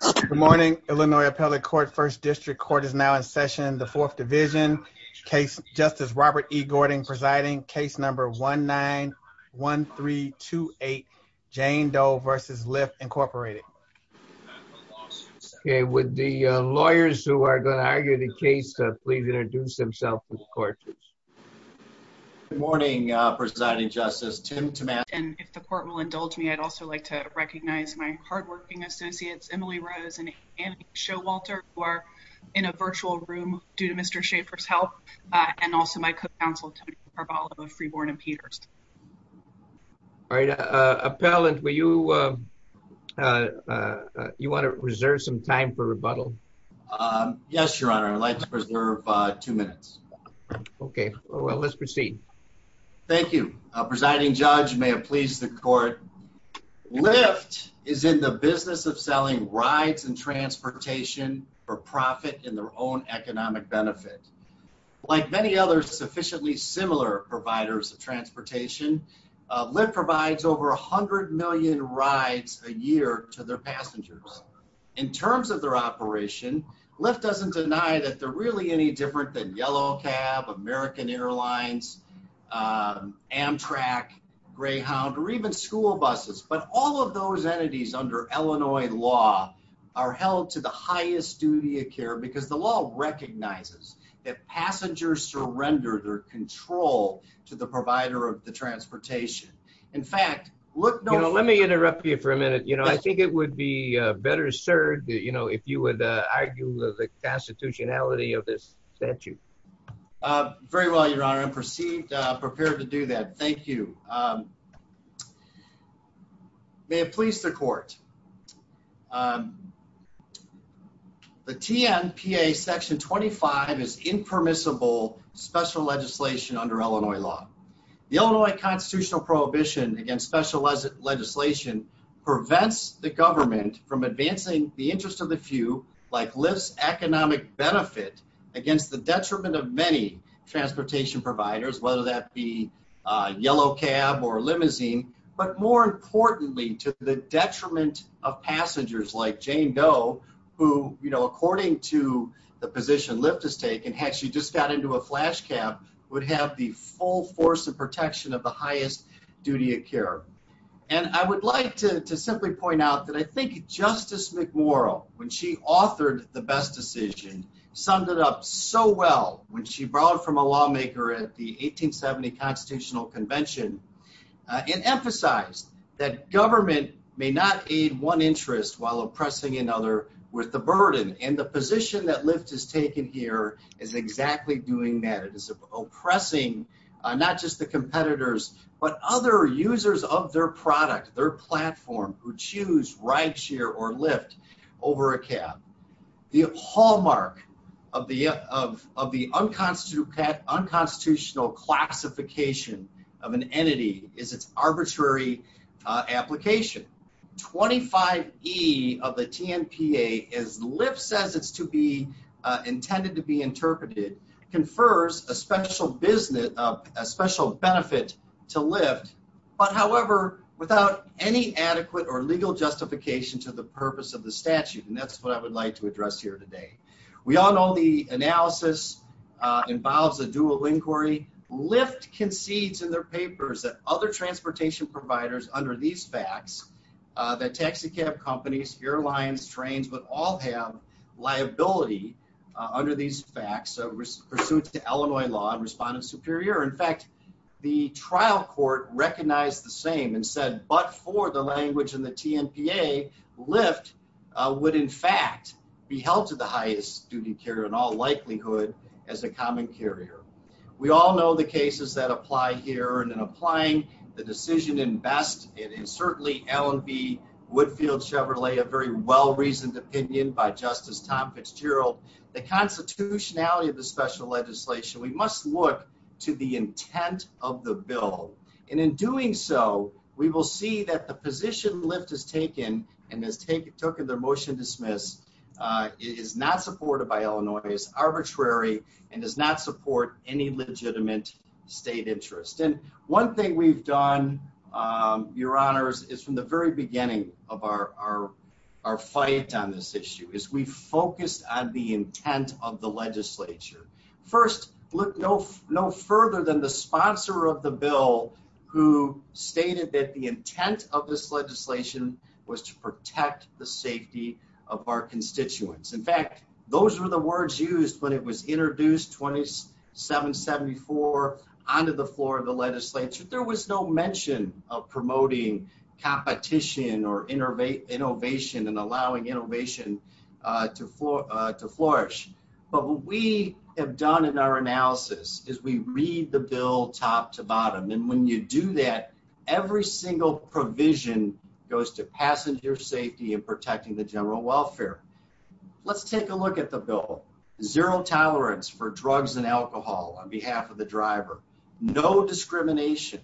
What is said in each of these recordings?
Good morning, Illinois Appellate Court, First District. Court is now in session in the Fourth Division. Justice Robert E. Gordon presiding. Case number 1-9-1-3-2-8, Jane Doe v. Lyft, Incorporated. Okay, would the lawyers who are going to argue the case please introduce themselves to the court. Good morning, Presiding Justice, Tim Tomasi. And if the court will indulge me, I'd also like to recognize my hard-working associates Emily Rose and Annie Showalter, who are in a virtual room due to Mr. Schaeffer's help, and also my co-counsel Tony Carvalho of Freeborn and Peters. All right, Appellant, will you you want to reserve some time for rebuttal? Yes, Your Honor, I'd like to preserve two minutes. Okay, well let's proceed. Thank you. Presiding Judge, may it please the court, Lyft is in the business of selling rides and transportation for profit in their own economic benefit. Like many other sufficiently similar providers of transportation, Lyft provides over 100 million rides a year to their passengers. In terms of their operation, Lyft doesn't deny that they're really any different than Yellow Cab, American Airlines, Amtrak, Greyhound, or even school buses. But all of those entities under Illinois law are held to the highest duty of care because the law recognizes that passengers surrender their control to the provider of the transportation. In fact, look, let me interrupt you for a minute, you know, I think it would be better served, you know, if you would argue the constitutionality of this statute. Very well, Your Honor, I'm perceived prepared to do that. Thank you. May it please the court, the TNPA section 25 is impermissible special legislation under Illinois law. The Illinois constitutional prohibition against special legislation prevents the government from advancing the interest of the few, like Lyft's economic benefit, against the detriment of many transportation providers, whether that be Yellow Cab or limousine, but more importantly to the detriment of passengers like Jane Doe, who, you know, according to the position Lyft has taken, had she just got into a flash cab, would have the full force and protection of the highest duty of care. And I would like to simply point out that I think Justice McMurrow, when she authored the best decision, summed it up so well when she brought from a lawmaker at the 1870 Constitutional Convention and emphasized that government may not aid one interest while oppressing another with the burden. And the position that Lyft has taken here is exactly doing that. It is oppressing not just the competitors, but other users of their product, their platform, who choose ride share or Lyft over a cab. The hallmark of the unconstitutional classification of an entity is its arbitrary application. 25E of the TNPA, as Lyft says it's to be intended to be interpreted, confers a special business, a special benefit to Lyft, but however, without any adequate or legal justification to the purpose of the statute. And that's what I would like to address here today. We all know the analysis involves a dual inquiry. Lyft concedes in their papers that other transportation providers, under these facts, that taxi cab companies, airlines, trains, would all have liability under these facts, pursuant to trial court recognized the same and said but for the language in the TNPA, Lyft would in fact be held to the highest duty carrier in all likelihood as a common carrier. We all know the cases that apply here and in applying the decision in best, it is certainly L&B, Woodfield Chevrolet, a very well-reasoned opinion by Justice Tom Fitzgerald. The constitutionality of the special legislation, we must look to the intent of the bill and in doing so, we will see that the position Lyft has taken and has taken their motion to dismiss, is not supported by Illinois, is arbitrary and does not support any legitimate state interest. And one thing we've done, your honors, is from the very beginning of our fight on this issue, is we focused on the intent of the bill. We did not go further than the sponsor of the bill who stated that the intent of this legislation was to protect the safety of our constituents. In fact, those were the words used when it was introduced 2774 onto the floor of the legislature. There was no mention of promoting competition or innovation and allowing innovation to flourish. But what we have done in our analysis, is we read the bill top to bottom and when you do that, every single provision goes to passenger safety and protecting the general welfare. Let's take a look at the bill. Zero tolerance for drugs and alcohol on behalf of the driver. No discrimination.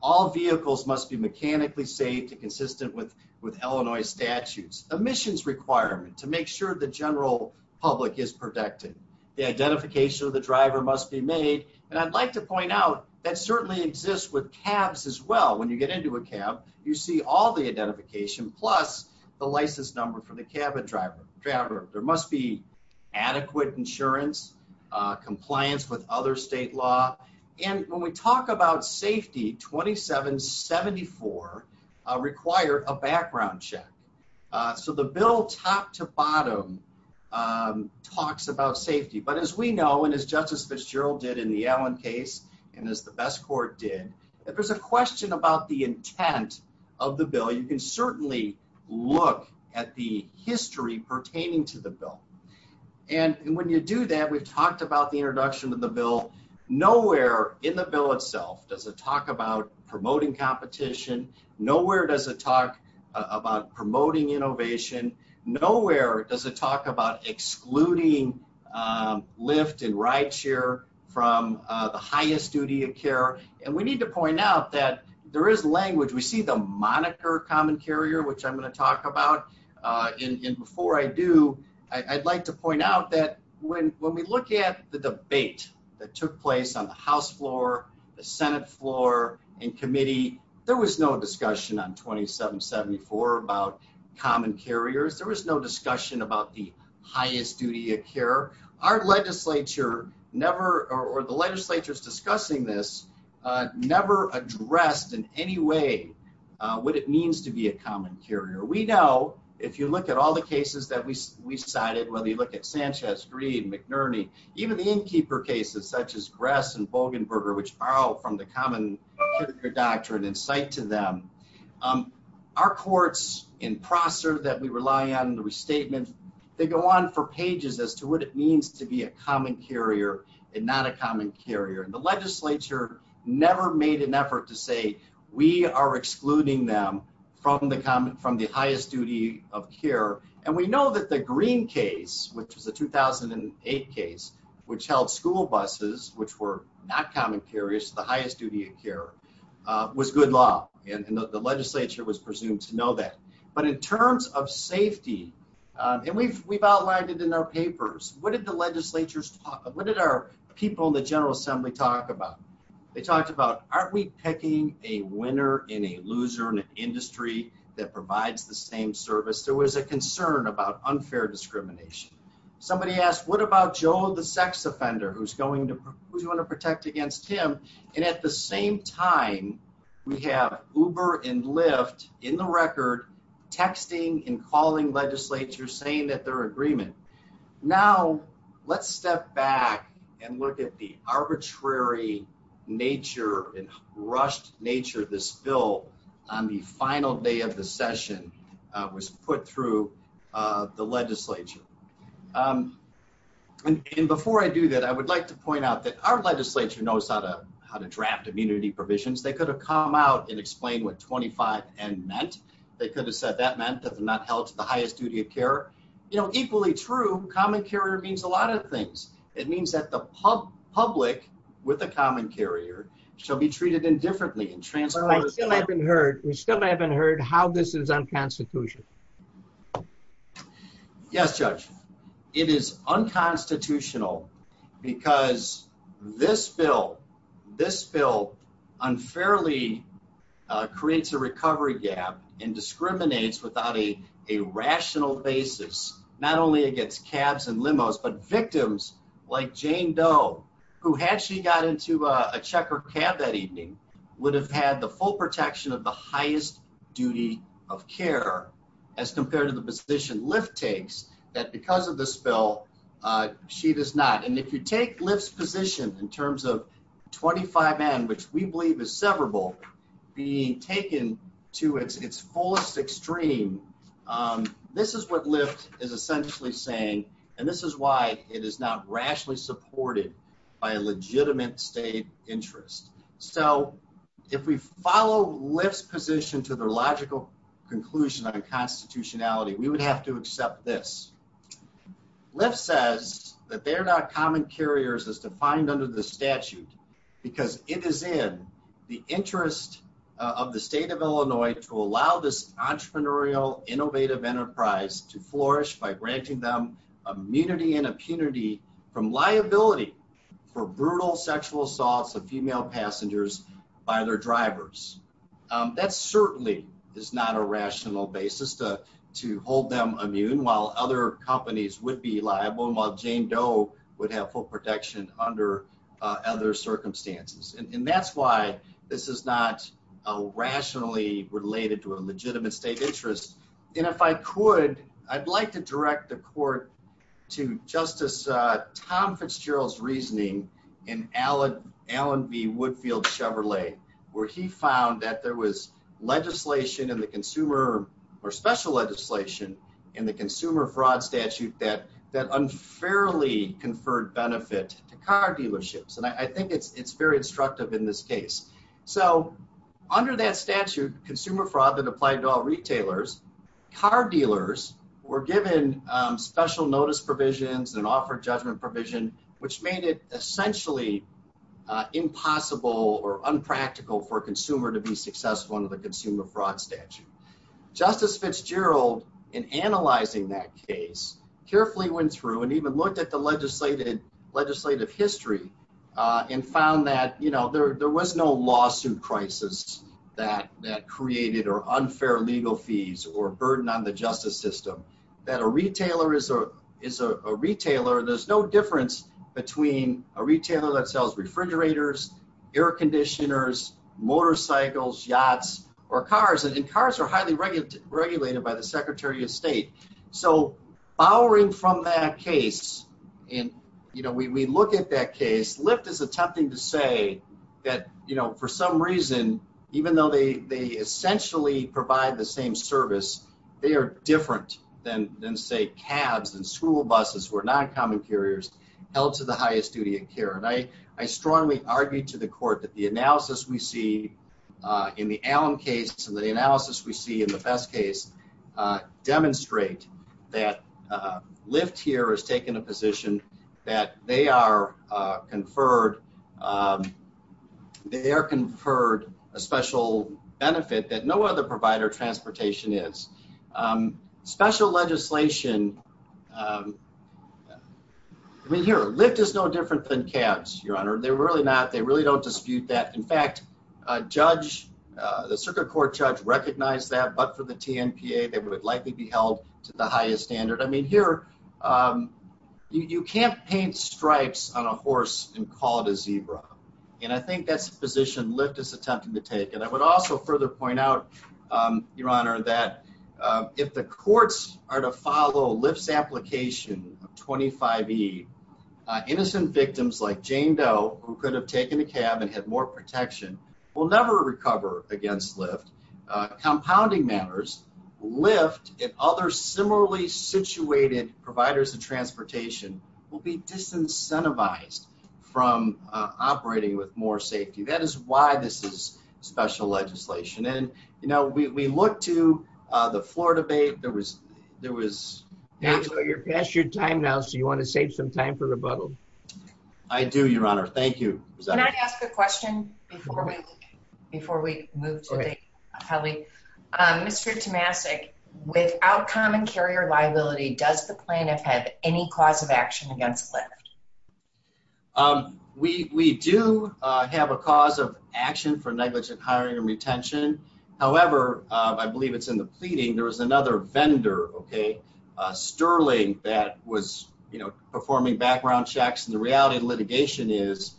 All vehicles must be mechanically safe and consistent with with Illinois statutes. Emissions requirement to make sure the general public is protected. The identification of the driver must be made. And I'd like to point out that certainly exists with cabs as well. When you get into a cab, you see all the identification plus the license number for the cabin driver. There must be adequate insurance, compliance with other state law. And when we talk about safety, 2774 required a background check. So the bill top to bottom talks about safety. But as we know, and as Justice Fitzgerald did in the Allen case, and as the best court did, if there's a question about the intent of the bill, you can certainly look at the history pertaining to the bill. And when you do that, we've talked about the introduction of the bill. Nowhere in the bill itself does it talk about promoting competition. Nowhere does it talk about promoting innovation. Nowhere does it talk about excluding lift and ride share from the highest duty of care. And we need to point out that there is language. We see the moniker common carrier, which I'm going to talk about. And before I do, I'd like to point out that when we look at the debate that took place on the House floor, the Senate floor, and committee, there was no discussion on 2774 about common carriers. There was no discussion about the highest duty of care. Our legislature never, or the legislature's discussing this, never addressed in any way what it means to be a common carrier. We know, if you look at all the cases that we cited, whether you look at Sanchez, Green, McNerney, even the innkeeper cases such as Gress and Bogenberger, which borrow from the that we rely on in the restatement, they go on for pages as to what it means to be a common carrier and not a common carrier. And the legislature never made an effort to say we are excluding them from the highest duty of care. And we know that the Green case, which was the 2008 case, which held school buses, which were not common carriers, the highest duty of care, was good law. And the legislature was presumed to know that. But in terms of safety, and we've outlined it in our papers, what did the legislature's talk, what did our people in the General Assembly talk about? They talked about, aren't we picking a winner in a loser in an industry that provides the same service? There was a concern about unfair discrimination. Somebody asked, what about Joe the sex offender who's going to, who's going to protect against him? And at the same time, we have Uber and Lyft in the record texting and calling legislature saying that their agreement. Now, let's step back and look at the arbitrary nature and rushed nature this bill on the final day of the session was put through the legislature. And before I do that, I would like to point out that our legislature knows how to draft immunity provisions. They could have come out and explained what 25 N meant. They could have said that meant that they're not held to the highest duty of care. You know, equally true, common carrier means a lot of things. It means that the public with a common carrier shall be treated indifferently and transported. I still haven't heard, we still haven't heard how this is unconstitutional. Yes, Judge, it is unconstitutional because this bill, this bill unfairly creates a recovery gap and discriminates without a rational basis, not only against cabs and limos, but victims like Jane Doe, who had she got into a checker cab that evening, would have had the full protection of the highest duty of care as compared to the position Lyft takes that because of this bill, she does not. And if you take Lyft's position in terms of 25 N, which we believe is severable, being taken to its fullest extreme, this is what Lyft is essentially saying, and this is why it is not rationally supported by a legitimate state interest. So if we follow Lyft's position to their logical conclusion on constitutionality, we would have to accept this. Lyft says that they're not common carriers as defined under the statute because it is in the interest of the state of Illinois to allow this entrepreneurial innovative enterprise to flourish by granting them immunity and impunity from liability for brutal sexual assaults of female passengers by their drivers. That certainly is not a rational basis to hold them immune while other companies would be liable, while Jane Doe would have full protection under other circumstances. And that's why this is not rationally related to a legitimate state interest. And if I could, I'd like to direct the court to Justice Tom Fitzgerald's reasoning in Allen v. Woodfield Chevrolet, where he found that there was legislation in the consumer or special legislation in the consumer fraud statute that that unfairly conferred benefit to car dealerships. And I think it's very instructive in this case. So under that statute, consumer fraud that applied to all retailers, car dealers were given special notice provisions and offered judgment provision, which made it essentially impossible or unpractical for a consumer to be successful under the consumer fraud statute. Justice Fitzgerald, in analyzing that case, carefully went through and even looked at the legislative history and found that, you know, there was no lawsuit crisis that created or unfair legal fees or burden on the justice system. That a retailer is a retailer. There's no difference between a retailer that sells refrigerators, air conditioners, motorcycles, yachts, or cars. And cars are highly regulated by the Secretary of State. So, borrowing from that case, and, you know, we look at that case, Lyft is attempting to say that, you know, for some reason, even though they essentially provide the same service, they are different than, say, cabs and school buses who are non-common carriers held to the highest duty of care. And I strongly argue to the Court that the analysis we see in the Allen case and the analysis we see in the Best case demonstrate that Lyft here has taken a position that they are conferred a special benefit that no other provider transportation is. Special legislation here. Lyft is no different than cabs, Your Honor. They're really not, they really don't dispute that. In fact, a judge, the Circuit Court judge recognized that, but for the TNPA, they would likely be held to the highest standard. I mean, here, you can't paint stripes on a horse and call it a zebra. And I think that's the position Lyft is attempting to take. And I would also further point out, Your Honor, that if the courts are to follow Lyft's application of 25E, innocent victims like Jane Doe, who could have taken a cab and had more protection, will never recover against Lyft. Compounding matters, Lyft and other similarly situated providers of transportation will be disincentivized from operating with more safety. That is why this is special legislation. And, you know, we look to the floor debate. There was... You're past your time now, so you want to save some time for rebuttal. I do, Your Honor. Thank you. Can I ask a question before we move to the public? Mr. Tomasic, without common carrier liability, does the plan have had any cause of action against Lyft? We do have a cause of action for negligent hiring and retention. However, I believe it's in the pleading, there was another vendor, Sterling, that was, you know, performing background checks. And the reality of litigation is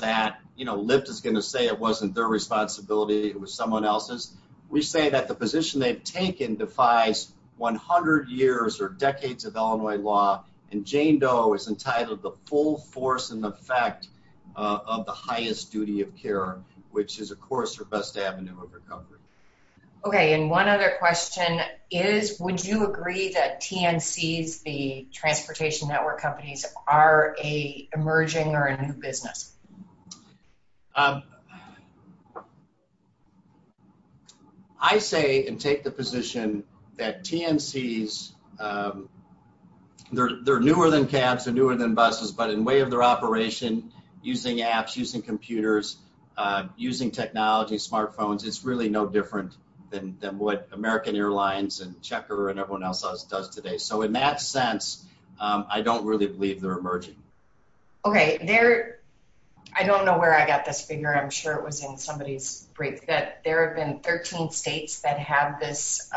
that, you know, Lyft is going to say it wasn't their responsibility, it was someone else's. We say that the position they've taken defies 100 years or decades of Illinois law, and Jane Doe is entitled the full force and effect of the highest duty of care, which is, of course, her best avenue of recovery. Okay, and one other question is, would you agree that TNCs, the transportation network companies, are a emerging or a new business? I say and take the position that TNCs, they're newer than cabs, they're newer than buses, but in way of their operation, using apps, using computers, using technology, smartphones, it's really no different than what American Airlines and Checker and everyone else does today. So in that sense, I don't really believe they're emerging. Okay, there, I don't know where I got this figure, I'm sure it was in somebody's brief, but there have been 13 states that have this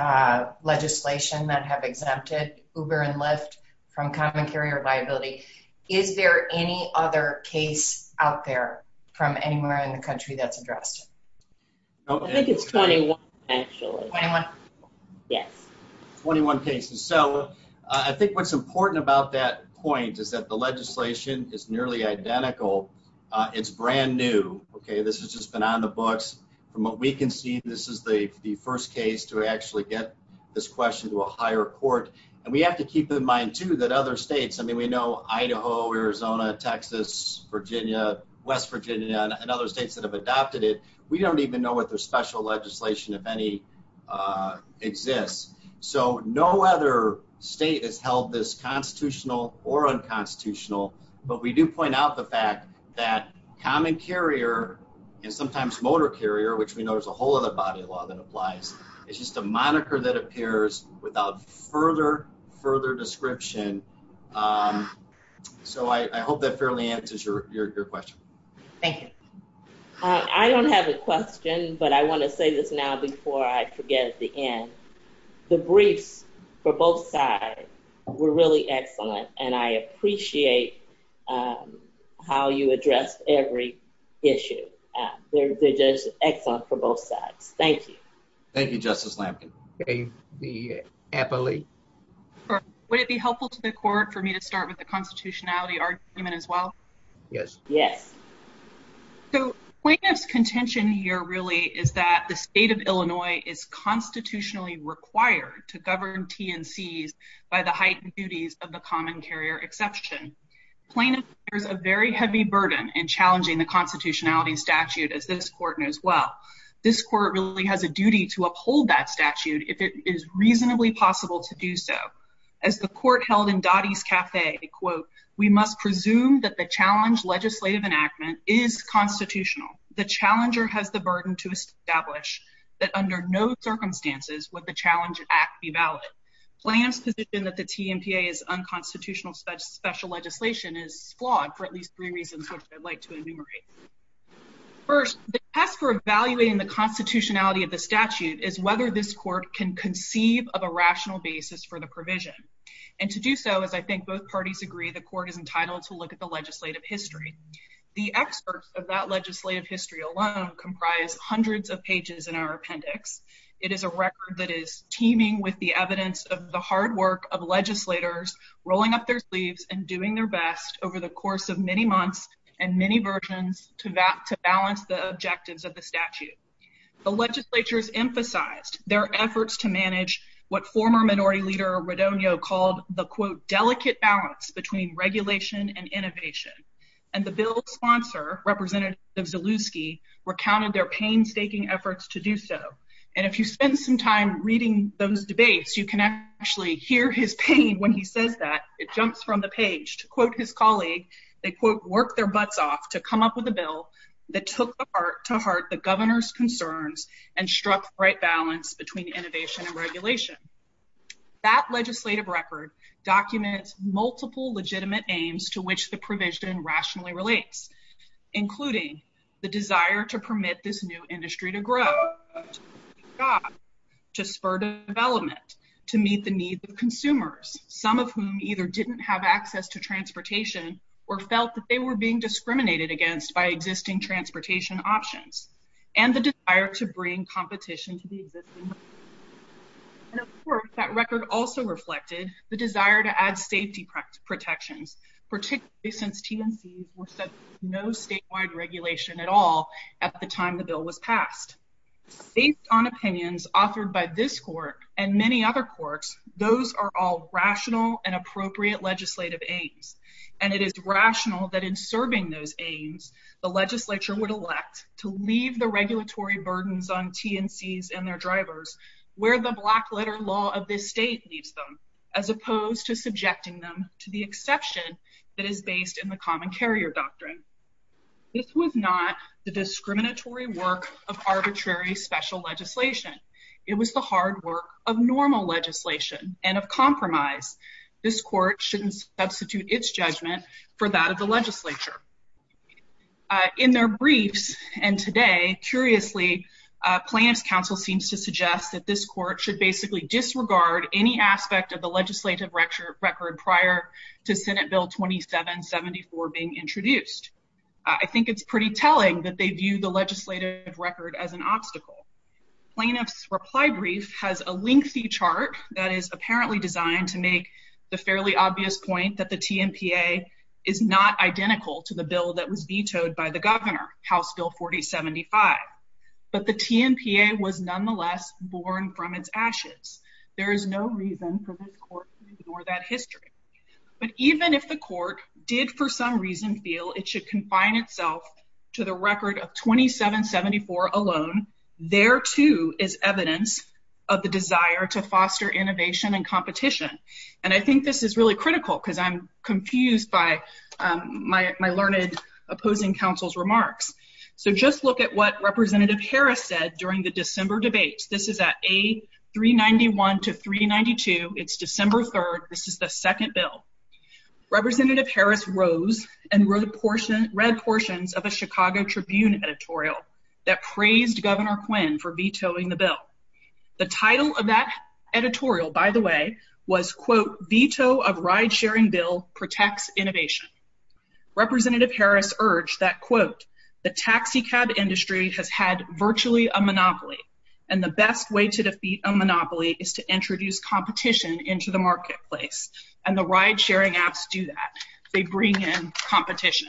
legislation that have exempted Uber and Lyft from common carrier liability. Is there any other case out there from anywhere in the country that's addressed? I think it's 21, actually. 21? Yes. 21 cases. So I think what's important about that point is that the legislation is nearly identical. It's brand new, okay, this has just been on the books. From what we can see, this is the first case to actually get this question to a higher court, and we have to keep in mind, too, that other states, I mean, we know Idaho, Arizona, Texas, Virginia, West Virginia, and other states that have adopted it. We don't even know what their special legislation, if any, exists. So no other state has held this constitutional or unconstitutional, but we do point out the fact that common carrier, and sometimes motor carrier, which we know is a whole other body of law that applies, it's just a moniker that appears without further description. So I hope that fairly answers your question. Thank you. I don't have a question, but I want to say this now before I forget at the end. The briefs for both sides were really excellent, and I appreciate how you addressed every issue. They're just excellent for both sides. Thank you. Thank you, Justice Lamkin. Would it be helpful to the court for me to start with the constitutionality argument as well? Yes. So plaintiff's contention here really is that the state of Illinois is constitutionally required to govern TNCs by the heightened duties of the common carrier exception. Plaintiff bears a very heavy burden in challenging the constitutionality statute, as this court knows well. This court really has a duty to uphold that statute if it is reasonably possible to do so. As the court held in Dottie's Cafe, quote, we must presume that the challenge legislative enactment is constitutional. The challenger has the burden to establish that under no circumstances would the challenge act be valid. Plaintiff's position that the TNCA is unconstitutional special legislation is flawed for at least three reasons, which I'd like to enumerate. First, the test for evaluating the constitutionality of the statute is whether this court can conceive of a rational basis for the provision. And to do so, as I think both parties agree, the court is entitled to look at the legislative history. The excerpts of that legislative history alone comprise hundreds of pages in our appendix. It is a record that is teeming with the evidence of the hard work of legislators rolling up their sleeves and doing their over the course of many months and many versions to balance the objectives of the statute. The legislatures emphasized their efforts to manage what former minority leader Rodonio called the, quote, delicate balance between regulation and innovation. And the bill's sponsor, Representative Zalewski, recounted their painstaking efforts to do so. And if you spend some time reading those debates, you can actually hear his pain when he says that. It jumps from the page. To quote his colleague, they, quote, work their butts off to come up with a bill that took to heart the governor's concerns and struck right balance between innovation and regulation. That legislative record documents multiple legitimate aims to which the provision rationally relates, including the desire to permit this new industry to grow, to spur development, to meet the need of some of whom either didn't have access to transportation or felt that they were being discriminated against by existing transportation options, and the desire to bring competition to the existing. And of course, that record also reflected the desire to add safety protections, particularly since TNCs were subject to no statewide regulation at all at the time the bill was passed. Based on opinions authored by this court and many other courts, those are all rational and appropriate legislative aims, and it is rational that in serving those aims, the legislature would elect to leave the regulatory burdens on TNCs and their drivers where the black letter law of this state leaves them, as opposed to subjecting them to the exception that is based in the common carrier doctrine. This was not the discriminatory work of it was the hard work of normal legislation and of compromise. This court shouldn't substitute its judgment for that of the legislature. In their briefs and today, curiously, plaintiff's counsel seems to suggest that this court should basically disregard any aspect of the legislative record prior to Senate Bill 2774 being introduced. I think it's pretty telling that they view the legislative record as an The reply brief has a lengthy chart that is apparently designed to make the fairly obvious point that the TNPA is not identical to the bill that was vetoed by the governor, House Bill 4075, but the TNPA was nonetheless born from its ashes. There is no reason for this court to ignore that history, but even if the court did for some reason feel it should confine itself to the record of 2774 alone, there too is evidence of the desire to foster innovation and competition. And I think this is really critical because I'm confused by my learned opposing counsel's remarks. So just look at what Representative Harris said during the December debate. This is at A391 to 392. It's December 3rd. This is the second bill. Representative Harris rose and read portions of a Chicago Tribune editorial that praised Governor Quinn for vetoing the bill. The title of that editorial, by the way, was Veto of Ridesharing Bill Protects Innovation. Representative Harris urged that the taxi cab industry has had virtually a monopoly and the best way to defeat a monopoly is to introduce competition into the marketplace. And the ridesharing apps do that. They bring in competition.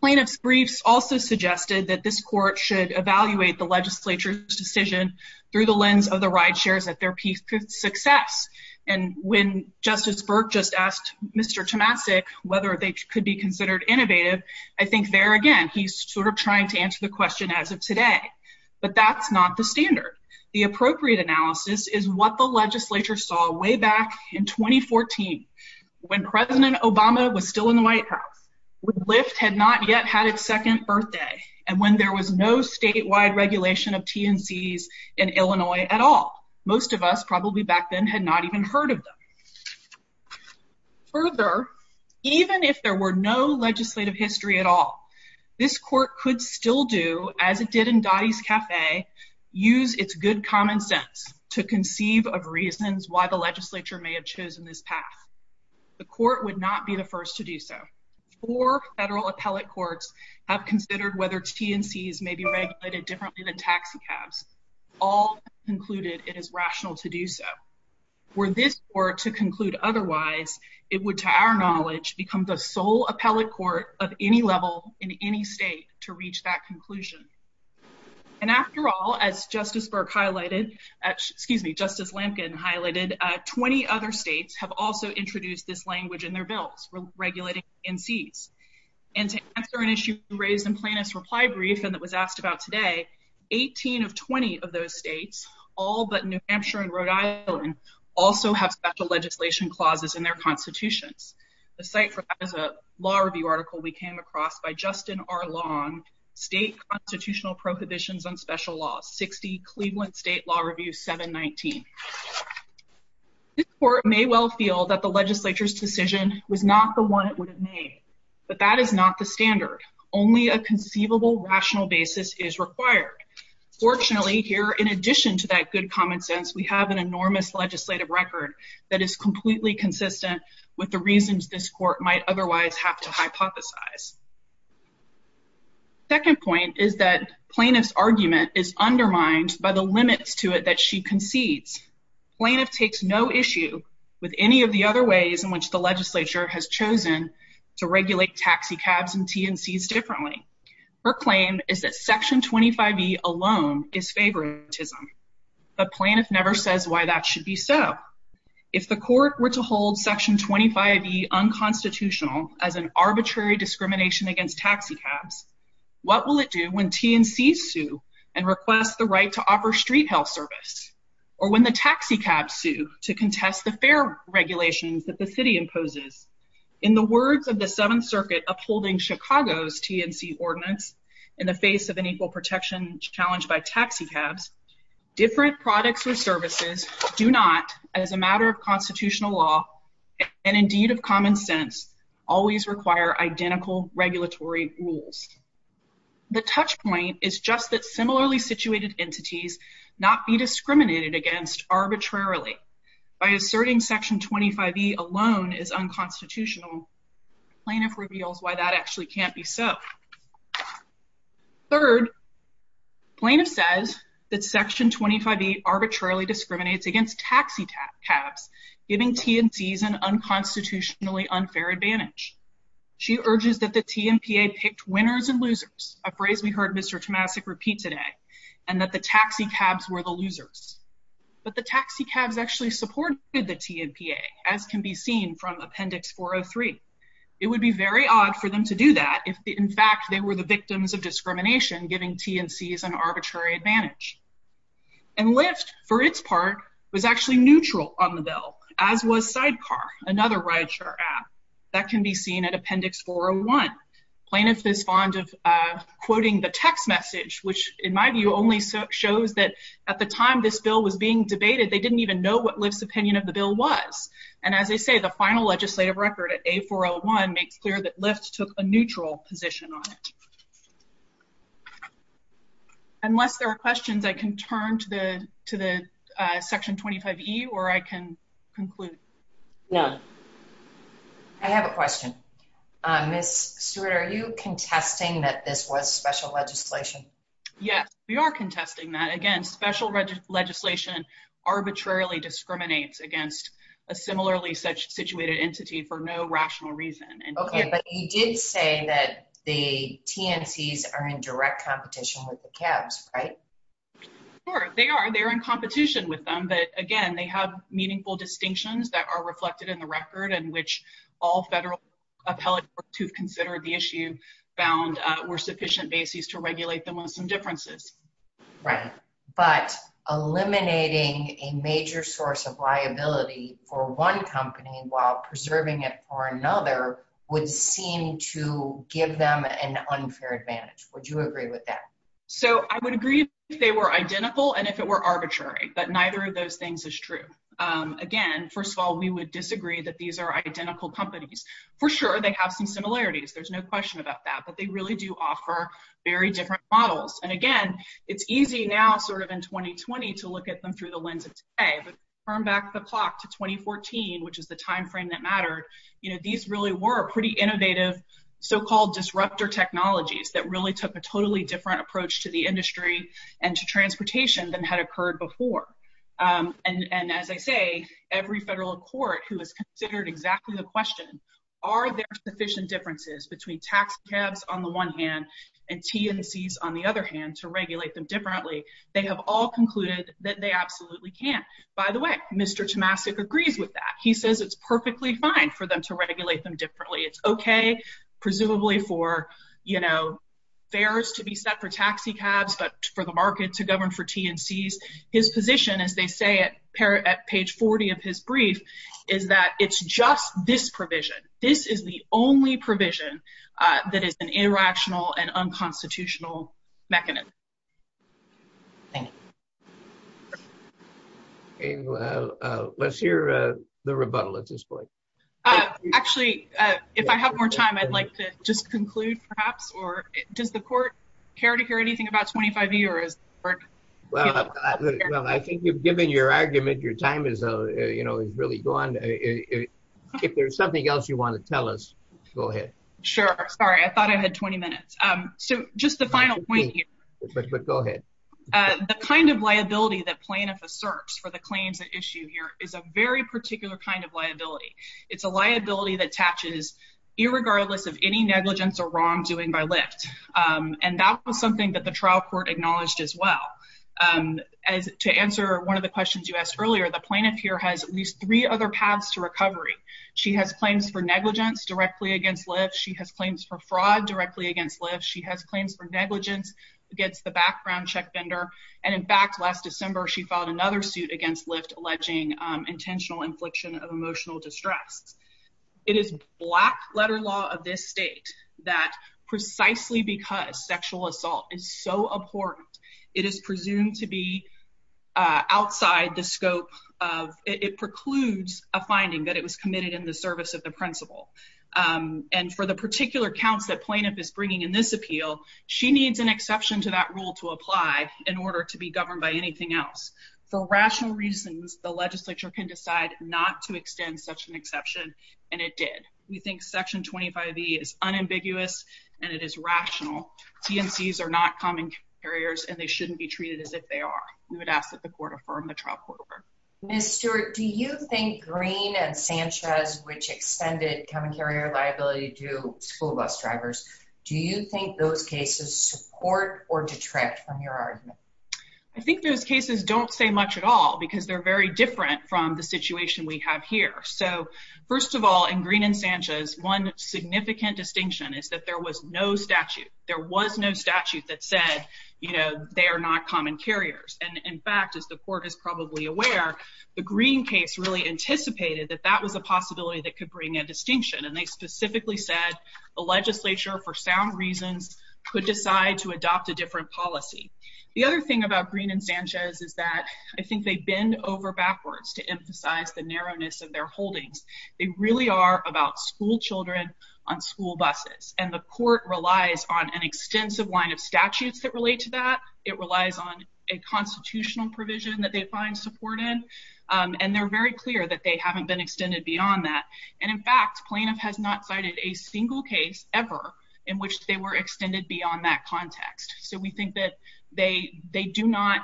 Plaintiffs' briefs also suggested that this court should evaluate the legislature's decision through the lens of the rideshares at their peak success. And when Justice Burke just asked Mr. Tomasik whether they could be considered innovative, I think there again he's sort of trying to answer the question as of today. But that's not the standard. The appropriate analysis is what the legislature saw way back in 2014 when President Obama was still in the White House, when Lyft had not yet had its second birthday, and when there was no statewide regulation of TNCs in Illinois at all. Most of us probably back then had not even heard of them. Further, even if there were no legislative history at all, this court could still do, as it did in Dottie's Cafe, use its good common sense to conceive of reasons why the legislature may have chosen this path. The court would not be the first to do so. Four federal appellate courts have considered whether TNCs may be regulated differently than taxi cabs. All concluded it is rational to do so. Were this court to conclude otherwise, it would, to our knowledge, become the first in any state to reach that conclusion. And after all, as Justice Burke highlighted, excuse me, Justice Lampkin highlighted, 20 other states have also introduced this language in their bills regulating TNCs. And to answer an issue raised in Plaintiff's reply brief and that was asked about today, 18 of 20 of those states, all but New Hampshire and Rhode Island, also have special legislation clauses in their constitutions. The site for that is a law review article we came across by Justin R. Long, State Constitutional Prohibitions on Special Laws, 60 Cleveland State Law Review 719. This court may well feel that the legislature's decision was not the one it would have made, but that is not the standard. Only a conceivable rational basis is required. Fortunately here, in addition to that good common sense, we have an enormous legislative record that is completely consistent with the reasons this court might otherwise have to hypothesize. Second point is that Plaintiff's argument is undermined by the limits to it that she concedes. Plaintiff takes no issue with any of the other ways in which the legislature has chosen to regulate taxi cabs and TNCs differently. Her claim is that Section 25e alone is favoritism, but Plaintiff never says why that should be so. If the court were to hold Section 25e unconstitutional as an arbitrary discrimination against taxi cabs, what will it do when TNCs sue and request the right to offer street health service? Or when the taxi cabs sue to contest the fair regulations that the city imposes? In the words of the Seventh Circuit upholding Chicago's TNC ordinance in the face of an equal protection challenge by taxi cabs, different products or services do not, as a matter of constitutional law and indeed of common sense, always require identical regulatory rules. The touch point is just that similarly situated entities not be discriminated against arbitrarily. By asserting Section 25e alone is unconstitutional, Plaintiff reveals why that actually can't be so. Third, Plaintiff says that Section 25e arbitrarily discriminates against taxi cabs, giving TNCs an unconstitutionally unfair advantage. She urges that the TNPA picked winners and losers, a phrase we heard Mr. Tomasik repeat today, and that the taxi cabs were the losers. But the taxi cabs actually supported the TNPA, as can be seen from Appendix 403. It would be very odd for them to do that if in fact they were the victims of discrimination, giving TNCs an arbitrary advantage. And Lyft, for its part, was actually neutral on the bill, as was Sidecar, another rideshare app that can be seen at Appendix 401. Plaintiff is fond of quoting the text message, which in my view only shows that at the time this bill was being debated, they didn't even know what Lyft's opinion of the bill was. And as they say, the final legislative record at A401 makes clear that Lyft took a neutral position on it. Unless there are questions, I can turn to the to the Section 25e, or I can conclude. No, I have a question. Ms. Stewart, are you contesting that this was special legislation? Yes, we are contesting that. Again, special legislation arbitrarily discriminates against a similarly such situated entity for no rational reason. Okay, but you did say that the TNCs are in direct competition with the cabs, right? Sure, they are. They're in competition with them, but again, they have meaningful distinctions that are reflected in the record in which all federal appellate groups who've considered the issue found were sufficient bases to regulate them on some differences. Right, but eliminating a major source of would seem to give them an unfair advantage. Would you agree with that? So, I would agree if they were identical and if it were arbitrary, but neither of those things is true. Again, first of all, we would disagree that these are identical companies. For sure, they have some similarities. There's no question about that, but they really do offer very different models. And again, it's easy now, sort of in 2020, to look at them through the lens of today, but turn back the clock to 2014, which is the time frame that mattered. You know, these really were pretty innovative so-called disruptor technologies that really took a totally different approach to the industry and to transportation than had occurred before. And as I say, every federal court who has considered exactly the question, are there sufficient differences between tax cabs on the one hand and TNCs on the other hand to regulate them differently, they have all concluded that they absolutely can't. By the way, Mr. Tomasik agrees with that. He says it's perfectly fine for them to regulate them differently. It's okay, presumably, for, you know, fares to be set for taxi cabs, but for the market to govern for TNCs. His position, as they say, at page 40 of his brief, is that it's just this provision. This is the only provision that is an irrational and unconstitutional mechanism. Thank you. Okay, well, let's hear the rebuttal at this point. Actually, if I have more time, I'd like to just conclude, perhaps, or does the court care to hear anything about 25E or is the court... Well, I think you've given your argument. Your time is, you know, is really gone. If there's something else you want to tell us, go ahead. Sure. Sorry, I thought I had 20 minutes. So, just the final point here. Go ahead. The kind of liability that plaintiff asserts for the claims at issue here is a very particular kind of liability. It's a liability that attaches irregardless of any negligence or wrong doing by Lyft, and that was something that the trial court acknowledged as well. As to answer one of the questions you asked earlier, the plaintiff here has at least three other paths to recovery. She has claims for negligence directly against Lyft. She has claims for fraud directly against Lyft. She has claims for negligence against the background check vendor, and in fact, last December, she filed another suit against Lyft alleging intentional infliction of emotional distress. It is black letter law of this state that precisely because sexual assault is so abhorrent, it is presumed to be outside the scope of... It precludes a finding that it was committed in the service of the principal, and for the particular counts that plaintiff is bringing in this appeal, she needs an exception to that rule to apply in order to be governed by anything else. For rational reasons, the legislature can decide not to extend such an exception, and it did. We think Section 25e is unambiguous and it is rational. TNCs are not common carriers and they shouldn't be treated as if they are. We would ask that the court affirm the trial court order. Ms. Stewart, do you think Green and Sanchez, which extended common carrier liability to school bus drivers, do you think those cases support or detract from your argument? I think those cases don't say much at all because they're very different from the situation we have here. So, first of all, in Green and Sanchez, one significant distinction is that there was no statute. There was no statute that said, you know, they are not common carriers, and in fact, as the court is probably aware, the Green case really anticipated that that was a possibility that could bring a distinction, and they specifically said the legislature, for sound reasons, could decide to adopt a different policy. The other thing about Green and Sanchez is that I think they bend over backwards to emphasize the narrowness of their holdings. They really are about school children on school buses, and the court relies on an extensive line of statutes that relate to that. It relies on a constitutional provision that they find supported, and they're very clear that they haven't been extended beyond that, and in fact, plaintiff has not cited a single case ever in which they were extended beyond that context. So, we think that they do not,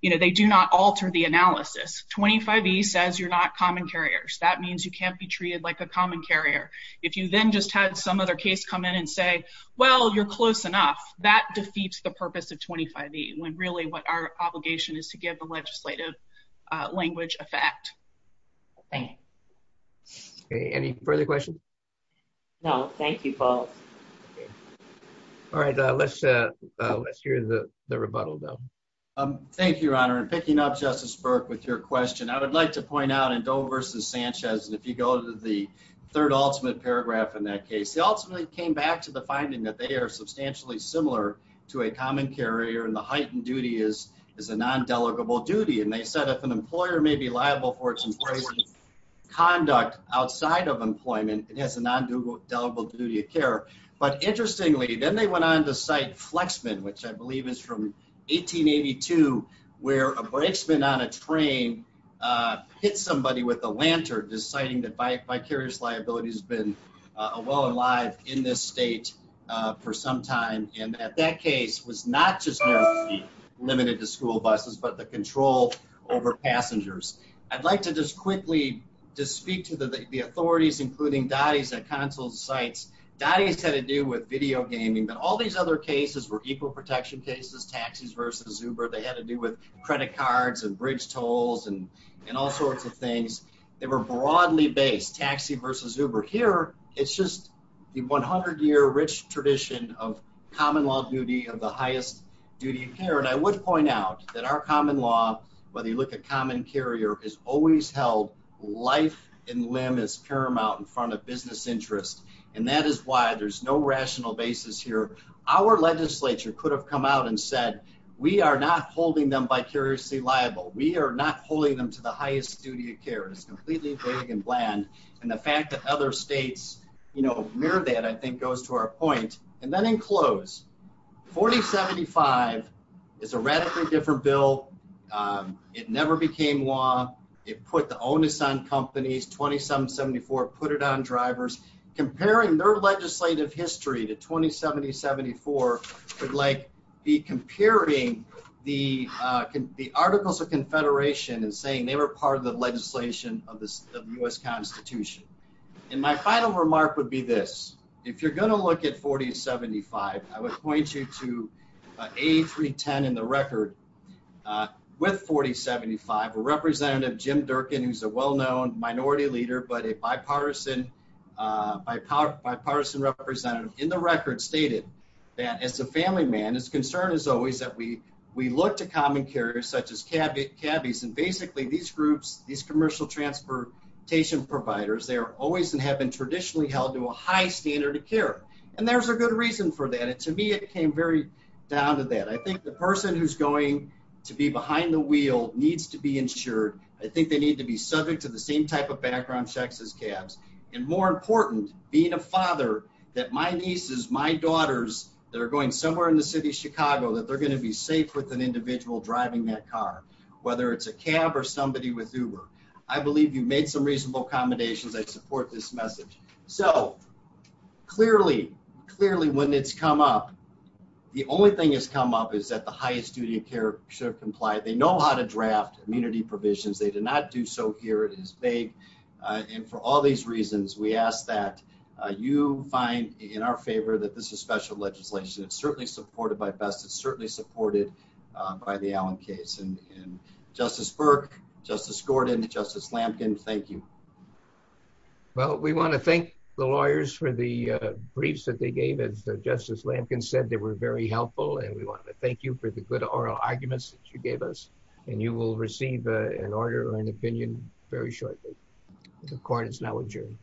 you know, they do not alter the analysis. 25E says you're not common carriers. That means you can't be treated like a common carrier. If you then just had some other case come in and say, well, you're close enough, that defeats the purpose of 25E, when really what our obligation is to give the legislative language a fact. Thank you. Any further questions? No, thank you both. All right, let's hear the rebuttal, Bill. Thank you, Your Honor, and picking up Justice Burke with your question, I would like to point out in Doe versus Sanchez, and if you go to the third ultimate paragraph in that case, they ultimately came back to the finding that they are substantially similar to a common carrier, and the heightened duty is a non-delegable duty, and they said if an employer may be liable for its employee's conduct outside of employment, it has a non-delegable duty of care, but interestingly, then they went on to cite Flexman, which I believe is from 1882, where a brakesman on a train hit somebody with a lantern, deciding that vicarious liability has been well and alive in this state for some time, and that that case was not just limited to school buses, but the control over passengers. I'd like to just quickly just speak to the authorities, including DOTI's at consul's sites. DOTI's had to do with video gaming, but all these other cases were equal protection cases, taxis versus Uber. They had to do with credit cards and bridge tolls and all sorts of things. They were broadly based, taxi versus Uber. Here, it's just the 100-year rich tradition of common law duty of the highest duty of care, and I would point out that our common law, whether you look at common carrier, is always held life and limb is paramount in front of business interest, and that is why there's no rational basis here. Our legislature could have come out and said we are not holding them vicariously liable. We are not holding them to the highest duty of care. It's completely vague and bland, and the fact that other states mirror that, I think, goes to our point. And then in close, 4075 is a radically different bill. It never became law. It put the onus on companies. 2774 put it on drivers. Comparing their legislative history to 2070-74 would be like comparing the Articles of Confederation and saying they were part of the legislation of the U.S. Constitution, and my final remark would be this. If you're going to look at 4075, I would point you to A310 in the record with 4075, a representative, Jim Durkin, who's a well-known minority leader but a bipartisan representative in the record stated that as a family man, his concern is always that we look to common carriers such as cabbies, and basically these groups, these commercial transportation providers, they are always and have been traditionally held to a high standard of care, and there's a good reason for that, and to me it came very down to that. I think the person who's going to be behind the wheel needs to be insured. I think they need to be subject to the same type of background checks as cabs, and more important, being a father, that my nieces, my daughters that are going somewhere in the city of Chicago, that they're going to be safe with an or somebody with Uber. I believe you made some reasonable accommodations. I support this message. So clearly, clearly when it's come up, the only thing that's come up is that the highest duty of care should comply. They know how to draft immunity provisions. They do not do so here. It is vague, and for all these reasons, we ask that you find in our favor that this is special legislation. It's certainly supported by BEST. It's certainly supported by the Allen case, and Justice Burke, Justice Gordon, Justice Lampkin, thank you. Well, we want to thank the lawyers for the briefs that they gave. As Justice Lampkin said, they were very helpful, and we want to thank you for the good oral arguments that you gave us, and you will receive an order or an opinion very shortly. The court is now adjourned.